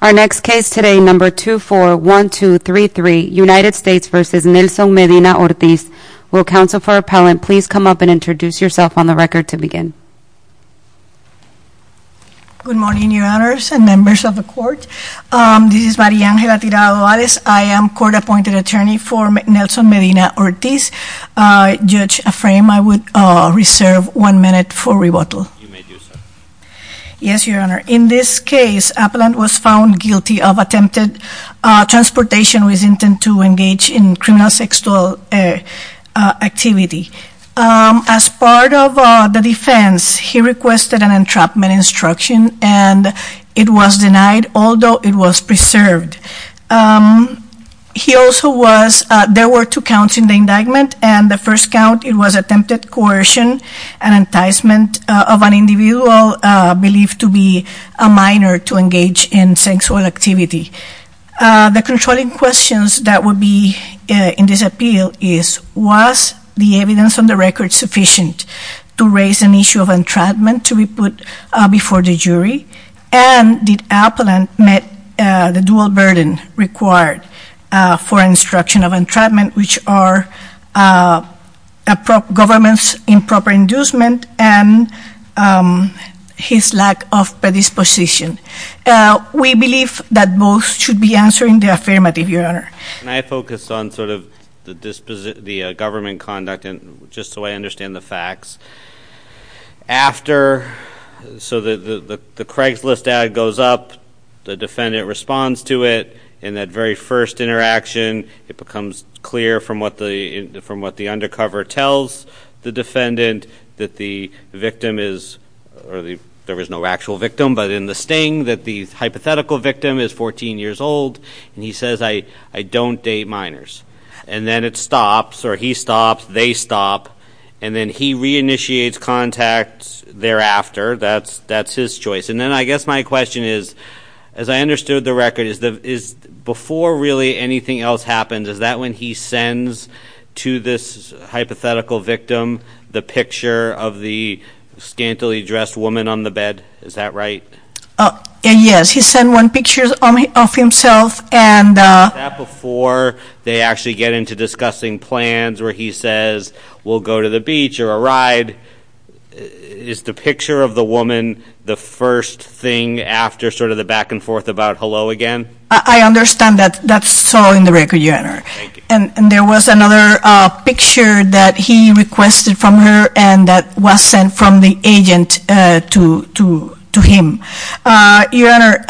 Our next case today, number 241233, United States v. Nelson Medina-Ortiz. Will counsel for appellant please come up and introduce yourself on the record to begin. Good morning, your honors and members of the court. This is Maria Angela Tirado-Ales. I am court-appointed attorney for Nelson Medina-Ortiz. Judge Afram, I would reserve one minute for rebuttal. You may do so. Yes, your honor. In this case, appellant was found guilty of attempted transportation with intent to engage in criminal sexual activity. As part of the defense, he requested an entrapment instruction and it was denied, although it was preserved. He also was, there were two counts in the indictment and the first count, it was attempted coercion and enticement of an individual believed to be a minor to engage in sexual activity. The controlling questions that would be in this appeal is, was the evidence on the record sufficient to raise an issue of entrapment to be put before the jury? And did appellant met the dual burden required for instruction of entrapment, which are government's improper inducement and his lack of predisposition? We believe that both should be answered in the affirmative, your honor. Can I focus on sort of the government conduct and just so I understand the facts. After, so the Craigslist ad goes up, the defendant responds to it and that very first interaction, it becomes clear from what the, from what the undercover tells the defendant that the victim is, or there was no actual victim, but in the sting that the hypothetical victim is 14 years old and he says, I don't date minors. And then it stops or he stops, they stop. And then he re-initiates contacts thereafter. That's, that's his choice. And then I guess my question is, as I understood the record is, is before really anything else happens, is that when he sends to this hypothetical victim, the picture of the scantily dressed woman on the bed? Is that right? Yes. He sent one pictures of himself and. That before they actually get into discussing plans where he says, we'll go to the beach or a ride. Is the picture of the woman the first thing after sort of the back and forth about hello again? I understand that that's so in the record, your honor. And there was another picture that he requested from her and that was sent from the agent to, to, to him. Your honor,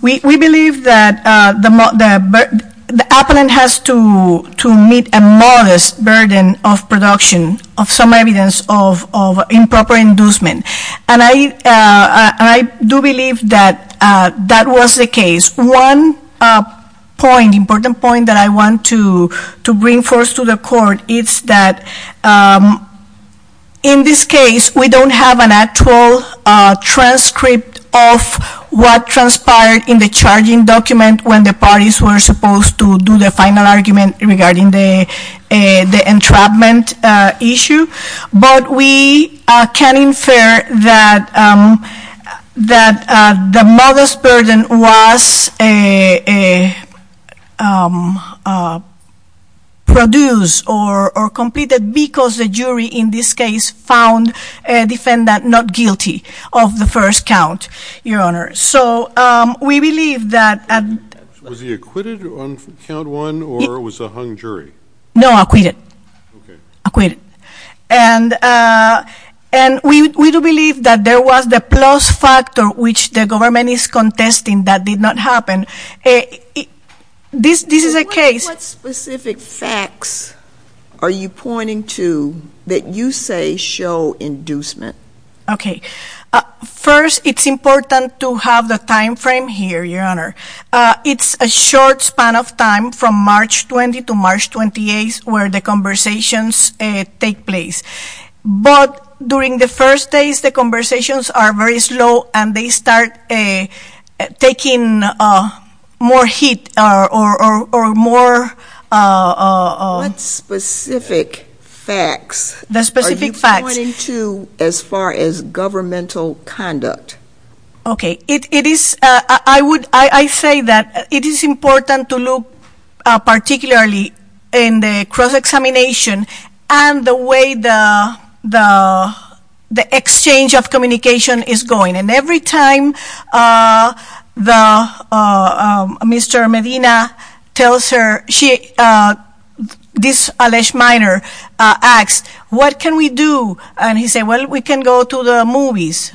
we, we believe that the, the appellant has to, to meet a modest burden of production of some evidence of, of improper inducement. And I, I do believe that that was the case. One point, important point that I want to, to bring forth to the court is that in this case, we don't have an actual transcript of what transpired in the charging document when the parties were supposed to do the final argument regarding the, the entrapment issue. But we can infer that, that the modest burden was produced or completed because the jury in this case found a defendant not guilty. Of the first count, your honor. So, we believe that. Was he acquitted on count one or was a hung jury? No, acquitted. Okay. Acquitted. And, and we, we do believe that there was the plus factor which the government is contesting that did not happen. This, this is a case. What specific facts are you pointing to that you say show inducement? Okay. First, it's important to have the time frame here, your honor. It's a short span of time from March 20 to March 28 where the conversations take place. But during the first days, the conversations are very slow and they start taking more heat or more. What specific facts are you pointing to as far as governmental conduct? Okay. It, it is, I would, I say that it is important to look particularly in the cross-examination and the way the, the, the exchange of communication is going. And every time the, Mr. Medina tells her, she, this Alesh Minor asks, what can we do? And he said, well, we can go to the movies.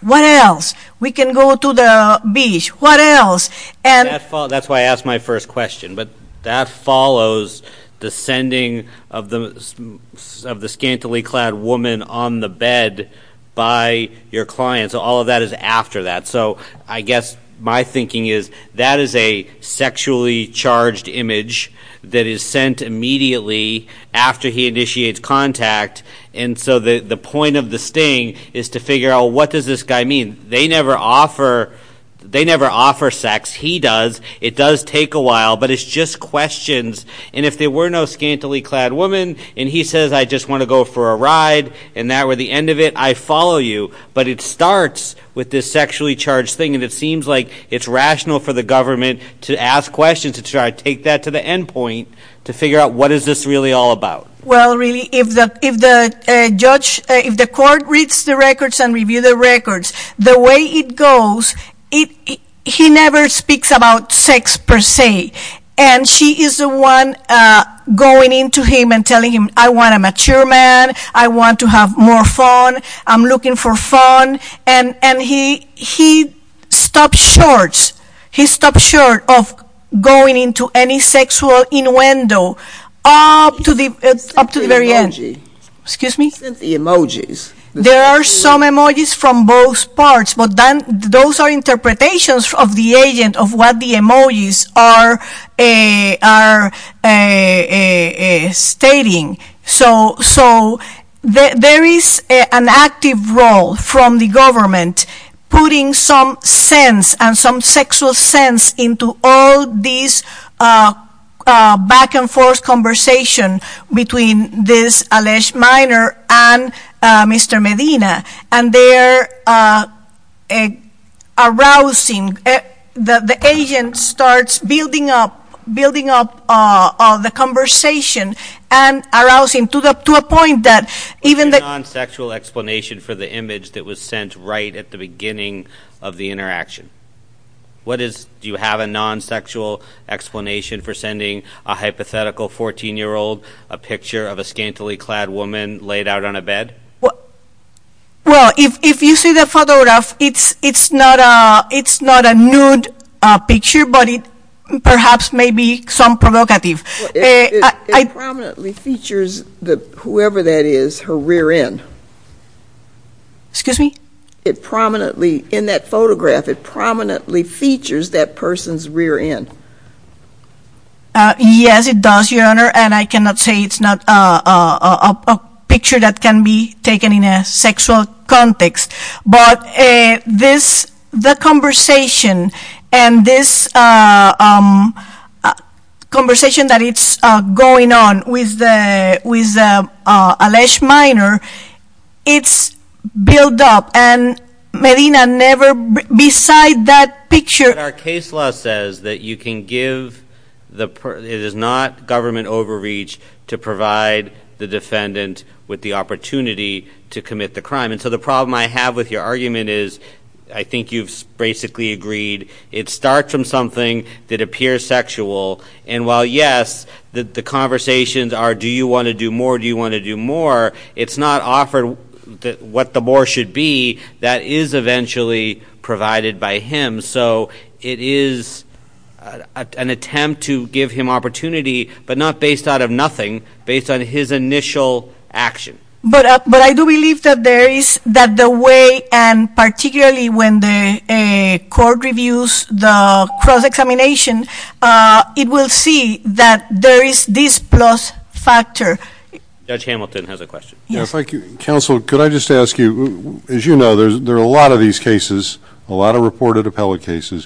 What else? We can go to the beach. What else? And. That's why I asked my first question. But that follows the sending of the, of the scantily clad woman on the bed by your client. So all of that is after that. So I guess my thinking is that is a sexually charged image that is sent immediately after he initiates contact. And so the, the point of the sting is to figure out what does this guy mean? They never offer, they never offer sex. He does. It does take a while, but it's just questions. And if there were no scantily clad woman, and he says, I just want to go for a ride, and that were the end of it, I follow you. But it starts with this sexually charged thing. And it seems like it's rational for the government to ask questions, to try to take that to the end point, to figure out what is this really all about? Well, really, if the, if the judge, if the court reads the records and review the records, the way it goes, it, he never speaks about sex per se. And she is the one going into him and I want a mature man. I want to have more fun. I'm looking for fun. And, and he, he stopped shorts. He stopped short of going into any sexual innuendo up to the, up to the very end. Excuse me? The emojis. There are some emojis from both parts, but then those are interpretations of the agent of what the emojis are, are stating. So, so there is an active role from the government putting some sense and some sexual sense into all these back and forth conversation between this minor and Mr. Medina. And they're arousing. The, the agent starts building up, building up the conversation and arousing to the, to a point that even the- Is there a non-sexual explanation for the image that was sent right at the beginning of the interaction? What is, do you have a non-sexual explanation for sending a hypothetical 14-year-old a picture of a scantily clad woman laid out on a bed? Well, if, if you see the photograph, it's, it's not a, it's not a nude picture, but it perhaps may be some provocative. It prominently features the, whoever that is, her rear end. Excuse me? It prominently, in that photograph, it prominently features that person's rear end. Uh, yes, it does, Your Honor. And I cannot say it's not a, a, a picture that can be taken in a sexual context. But, uh, this, the conversation and this, uh, um, conversation that it's, uh, going on with the, with, uh, uh, Alesh Minor, it's built up. And Medina never, beside that picture- Our case law says that you can give the, it is not government overreach to provide the defendant with the opportunity to commit the crime. And so the problem I have with your argument is, I think you've basically agreed, it starts from something that appears sexual. And while, yes, the, the conversations are, do you want to do more? Do you want to do more? It's not offered what the more should be. That is eventually provided by him. So it is an attempt to give him opportunity, but not based out of nothing, based on his initial action. But, uh, but I do believe that there is, that the way, and particularly when the, uh, court reviews the cross-examination, uh, it will see that there is this plus factor. Judge Hamilton has a question. Counsel, could I just ask you, as you know, there's, there are a lot of these cases, a lot of reported appellate cases.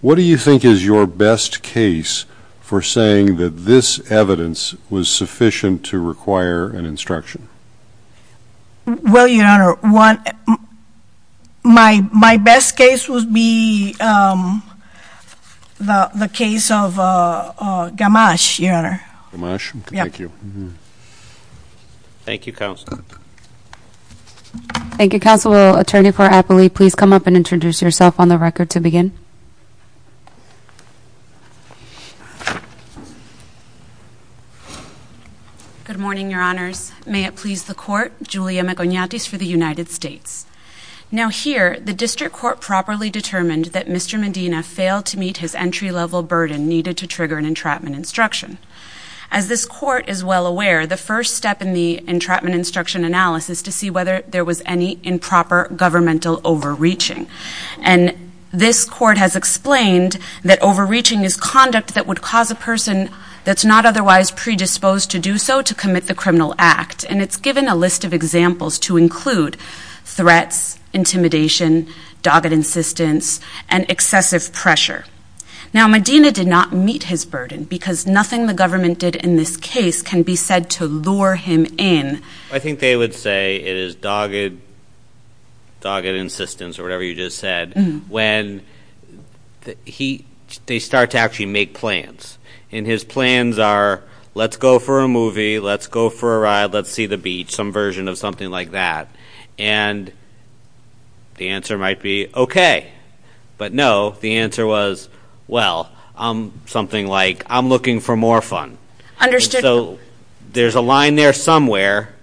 What do you think is your best case for saying that this evidence was sufficient to require an instruction? Well, Your Honor, one, my, my best case would be, um, the, the case of, uh, uh, Gamache, Your Honor. Gamache? Thank you. Mm-hmm. Thank you, Counsel. Thank you, Counsel. Will Attorney for Appellee please come up and introduce yourself on the record to begin? Good morning, Your Honors. May it please the Court, Julia McIgnatis for the United States. Now here, the District Court properly determined that Mr. Medina failed to meet his entry-level burden needed to trigger an entrapment instruction. As this Court is well aware, the first step in the entrapment instruction analysis is to see whether there was any improper governmental overreaching. And this Court has explained that overreaching is conduct that would cause a person that's not otherwise predisposed to do so to commit the criminal act. And it's given a list of examples to include threats, intimidation, dogged insistence, and excessive pressure. Now, Medina did not meet his burden because nothing the government did in this case can be said to lure him in. I think they would say it is dogged, dogged insistence or whatever you just said, when he, they start to actually make plans. And his plans are, let's go for a movie, let's go for a ride, let's see the beach, some version of something like that. And the answer might be, okay. But no, the answer was, well, something like, I'm looking for more fun. And so there's a line there somewhere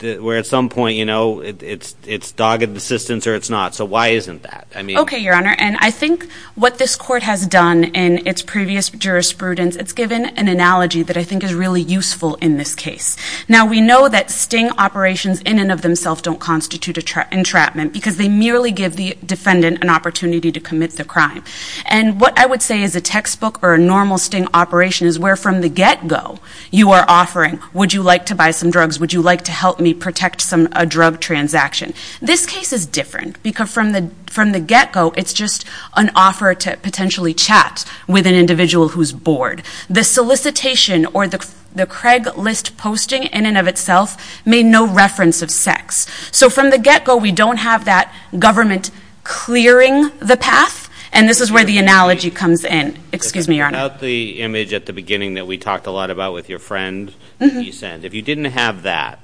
where at some point, it's dogged insistence or it's not. So why isn't that? Okay, Your Honor. And I think what this Court has done in its previous jurisprudence, it's given an analogy that I think is really useful in this case. Now, we know that sting operations in and of themselves don't constitute entrapment because they merely give the defendant an opportunity to commit the crime. And what I would say is a textbook or a normal sting operation is where from the get-go, you are offering, would you like to buy some drugs? Would you like to help me protect a drug transaction? This case is different because from the get-go, it's just an offer to potentially chat with an individual who's bored. The solicitation or the Craig list posting in and of itself made no reference of sex. So from the get-go, we don't have that government clearing the path. And this is where the analogy comes in. Excuse me, Your Honor. About the image at the beginning that we talked a lot about with your friend that you sent, if you didn't have that,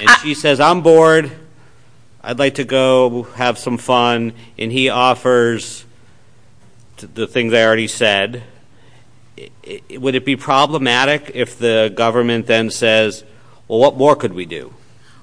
and she says, I'm bored, I'd like to go have some fun, and he offers the things I already said, would it be problematic if the government then says, well, what more could we do?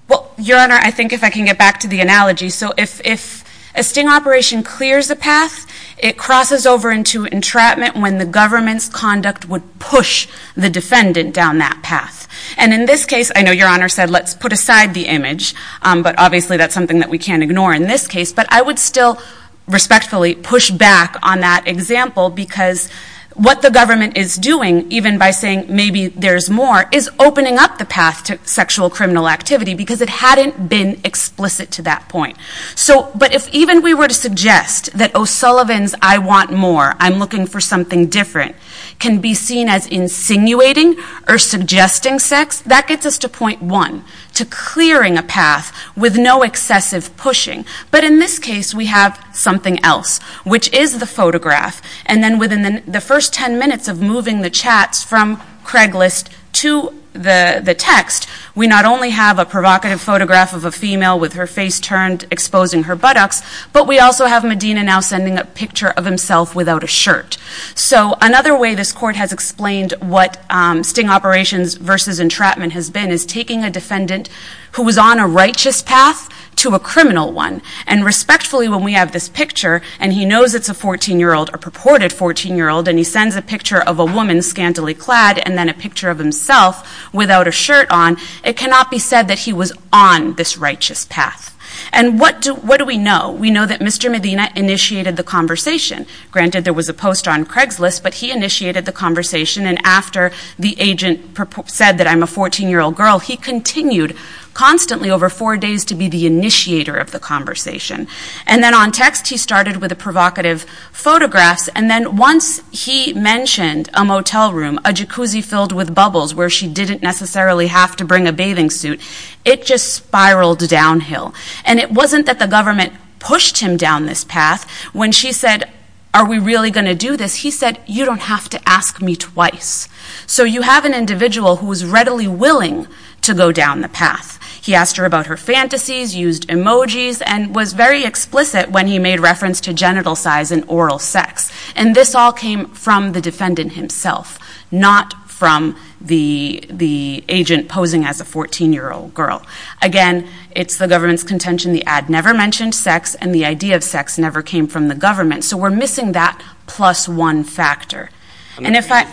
Well, Your Honor, I think if I can get back to the analogy. So if a sting operation clears a path, it crosses over into entrapment when the government's conduct would push the defendant down that path. And in this case, I know Your Honor said, let's put aside the image, but obviously that's something that we can't ignore in this case. But I would still respectfully push back on that example because what the government is doing, even by saying maybe there's more, is opening up the path to sexual criminal activity because it hadn't been explicit to that point. So, but if even we were to suggest that, oh, Sullivans, I want more, I'm looking for something different, can be seen as insinuating or suggesting sex, that gets us to point one, to clearing a path with no excessive pushing. But in this case, we have something else, which is the photograph. And then within the first ten minutes of moving the chats from Craiglist to the text, we not only have a provocative photograph of a female with her face turned exposing her buttocks, but we also have Medina now sending a picture of himself without a shirt. So another way this court has explained what Sting Operations v. Entrapment has been is taking a defendant who was on a righteous path to a criminal one. And respectfully, when we have this picture, and he knows it's a 14-year-old, a purported 14-year-old, and he sends a picture of a woman scantily clad and then a picture of himself without a shirt on, it cannot be said that he was on this righteous path. And what do we know? We know that Mr. Medina initiated the conversation. Granted, there was a post on Craiglist, but he initiated the conversation. And after the agent said that I'm a 14-year-old girl, he continued constantly over four days to be the initiator of the conversation. And then on text, he started with the provocative photographs. And then once he mentioned a motel room, a jacuzzi filled with bubbles where she didn't necessarily have to bring a bathing suit, it just spiraled downhill. And it wasn't that the government pushed him down this path. When she said, are we really going to do this? He said, you don't have to ask me twice. So you have an individual who was readily willing to go down the path. He asked her about her fantasies, used emojis, and was very explicit when he made reference to genital size and oral sex. And this all came from the defendant himself, not from the agent posing as a 14-year-old girl. Again, it's the government's contention. The ad never mentioned sex, and the idea of sex never came from the government. So we're missing that plus one factor. I'm going to change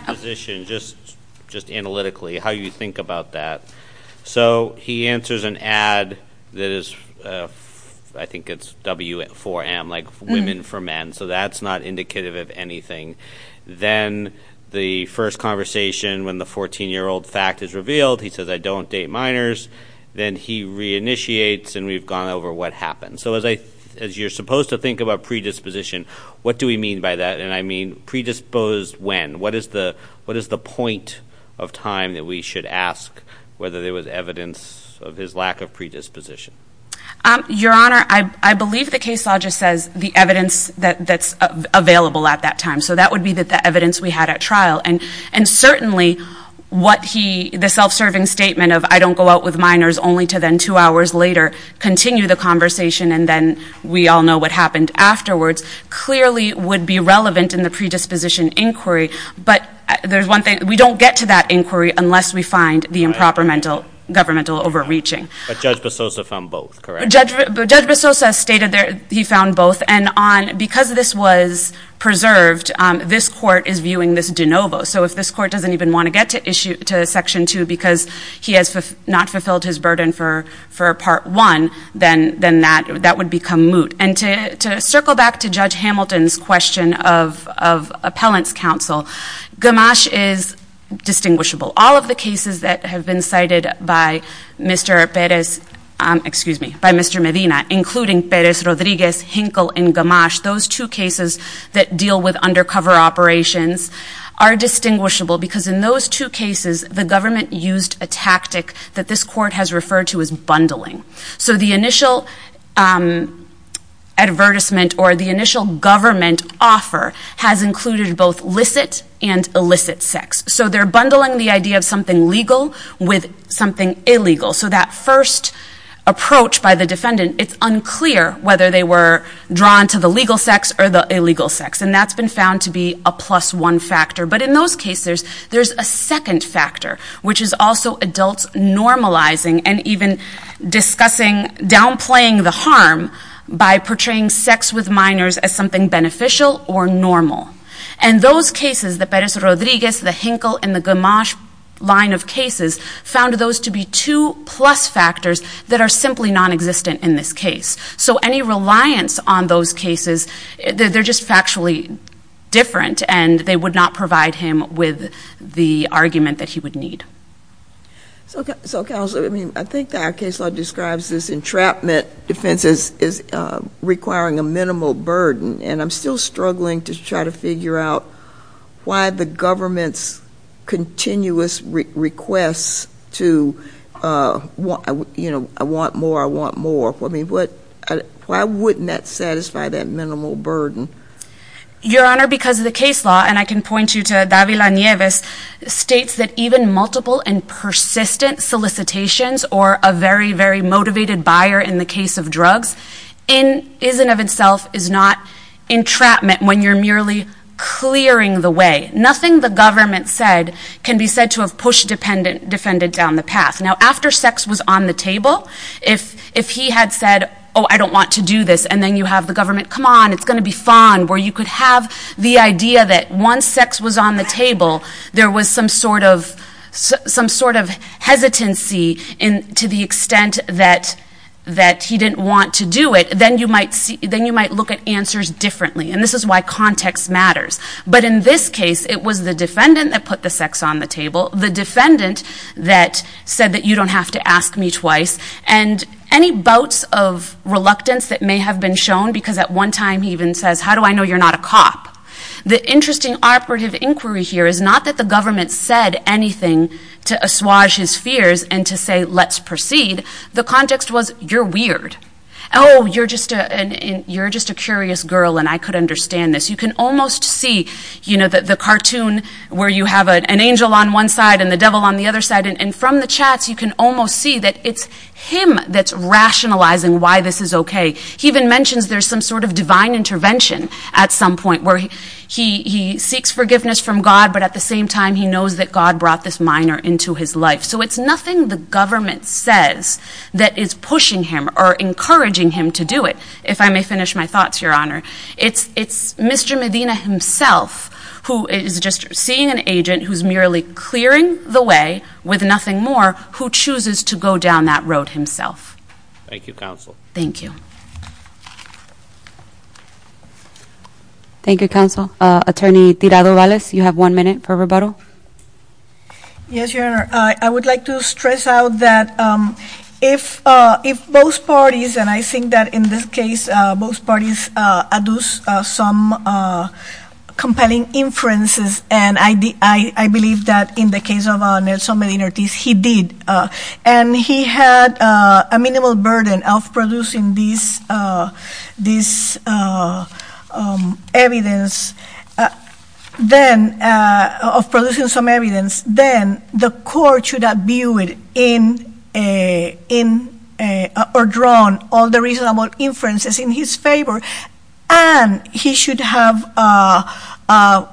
positions, just analytically, how you think about that. So he answers an ad that is, I think it's W4M, like women for men. So that's not indicative of anything. Then the first conversation when the 14-year-old fact is revealed, he says, I don't date minors. Then he reinitiates, and we've gone over what happened. So as you're supposed to think about predisposition, what do we mean by that? And I mean, predisposed when? What is the point of time that we should ask whether there was evidence of his lack of predisposition? Your Honor, I believe the case law just says the evidence that's available at that time. So that would be the evidence we had at trial. And certainly, the self-serving statement of, I don't go out with minors, only to then two hours later, continue the conversation, and then we all know what happened afterwards, clearly would be relevant in the predisposition inquiry. But there's one thing, we don't get to that inquiry unless we find the improper governmental overreaching. But Judge Basosa found both, correct? Judge Basosa stated that he found both. And because this was preserved, this court is viewing this de novo. So if this court doesn't even want to get to section two because he has not fulfilled his burden for part one, then that would become moot. And to circle back to Judge Hamilton's question of appellant's counsel, Gamache is distinguishable. All of the cases that have been cited by Mr. Perez, excuse me, by Mr. Medina, including Perez, Rodriguez, Hinkle, and Gamache, those two cases that deal with undercover operations, are distinguishable because in those two cases, the government used a tactic that this court has referred to as bundling. So the initial advertisement or the government offer has included both licit and illicit sex. So they're bundling the idea of something legal with something illegal. So that first approach by the defendant, it's unclear whether they were drawn to the legal sex or the illegal sex. And that's been found to be a plus one factor. But in those cases, there's a second factor, which is also adults normalizing and even discussing downplaying the harm by portraying sex with minors as something beneficial or normal. And those cases, the Perez, Rodriguez, the Hinkle, and the Gamache line of cases, found those to be two plus factors that are simply non-existent in this case. So any reliance on those cases, they're just factually different and they would not provide him with the argument that he would need. So counsel, I mean, I think that our case law describes this entrapment defense as requiring a minimal burden, and I'm still struggling to try to figure out why the government's continuous requests to, you know, I want more, I want more. Why wouldn't that satisfy that minimal burden? Your Honor, because of the case law, and I can point you to Davila Nieves, states that even multiple and persistent solicitations or a very, very motivated buyer in the case of drugs, in and of itself is not entrapment when you're merely clearing the way. Nothing the government said can be said to have pushed defendant down the path. Now, after sex was on the table, if he had said, oh, I don't want to do this, and then you have the government, come on, it's going to be fine, where you could have the idea that once sex was on the table, there was some sort of hesitancy to the extent that he didn't want to do it, then you might look at answers differently, and this is why context matters. But in this case, it was the defendant that put the sex on the table, the defendant that said that you don't have to ask me twice, and any bouts of reluctance that may have been shown, because at one time he even says, how do I know you're not a cop? The interesting operative inquiry here is not that the government said anything to assuage his fears and to say, let's proceed. The context was, you're weird. Oh, you're just a curious girl, and I could understand this. You can almost see, you know, the cartoon where you have an angel on one side and the devil on the other side, and from the chats, you can almost see that it's him that's rationalizing why this is okay. He even mentions there's some sort of divine intervention at some point where he seeks forgiveness from God, but at the same time, he knows that God brought this minor into his life. So it's nothing the government says that is pushing him or encouraging him to do it, if I may finish my thoughts, Your Honor. It's Mr. Medina himself who is just seeing an agent who's merely clearing the way with nothing more, who chooses to go down that road himself. Thank you, counsel. Thank you. Thank you, counsel. Attorney Tirado-Valles, you have one minute for rebuttal. Yes, Your Honor. I would like to stress out that if both parties, and I think that in this case, both parties adduce some compelling inferences, and I believe that in the case of Nelson Medina Ortiz, he did, and he had a minimal burden of producing this evidence, then, of producing some evidence, then the court should have viewed in, or drawn all the reasonable inferences in his favor, and he should have allowed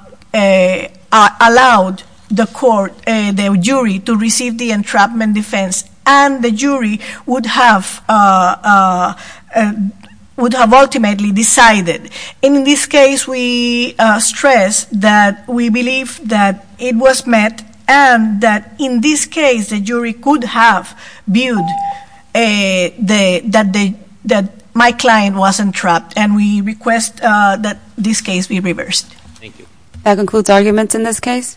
the court, the jury, to receive the entrapment defense, and the jury would have ultimately decided. In this case, we stress that we believe that it was met, and that in this case, the jury could have viewed that my client wasn't trapped, and we request that this case be reversed. Thank you. That concludes arguments in this case.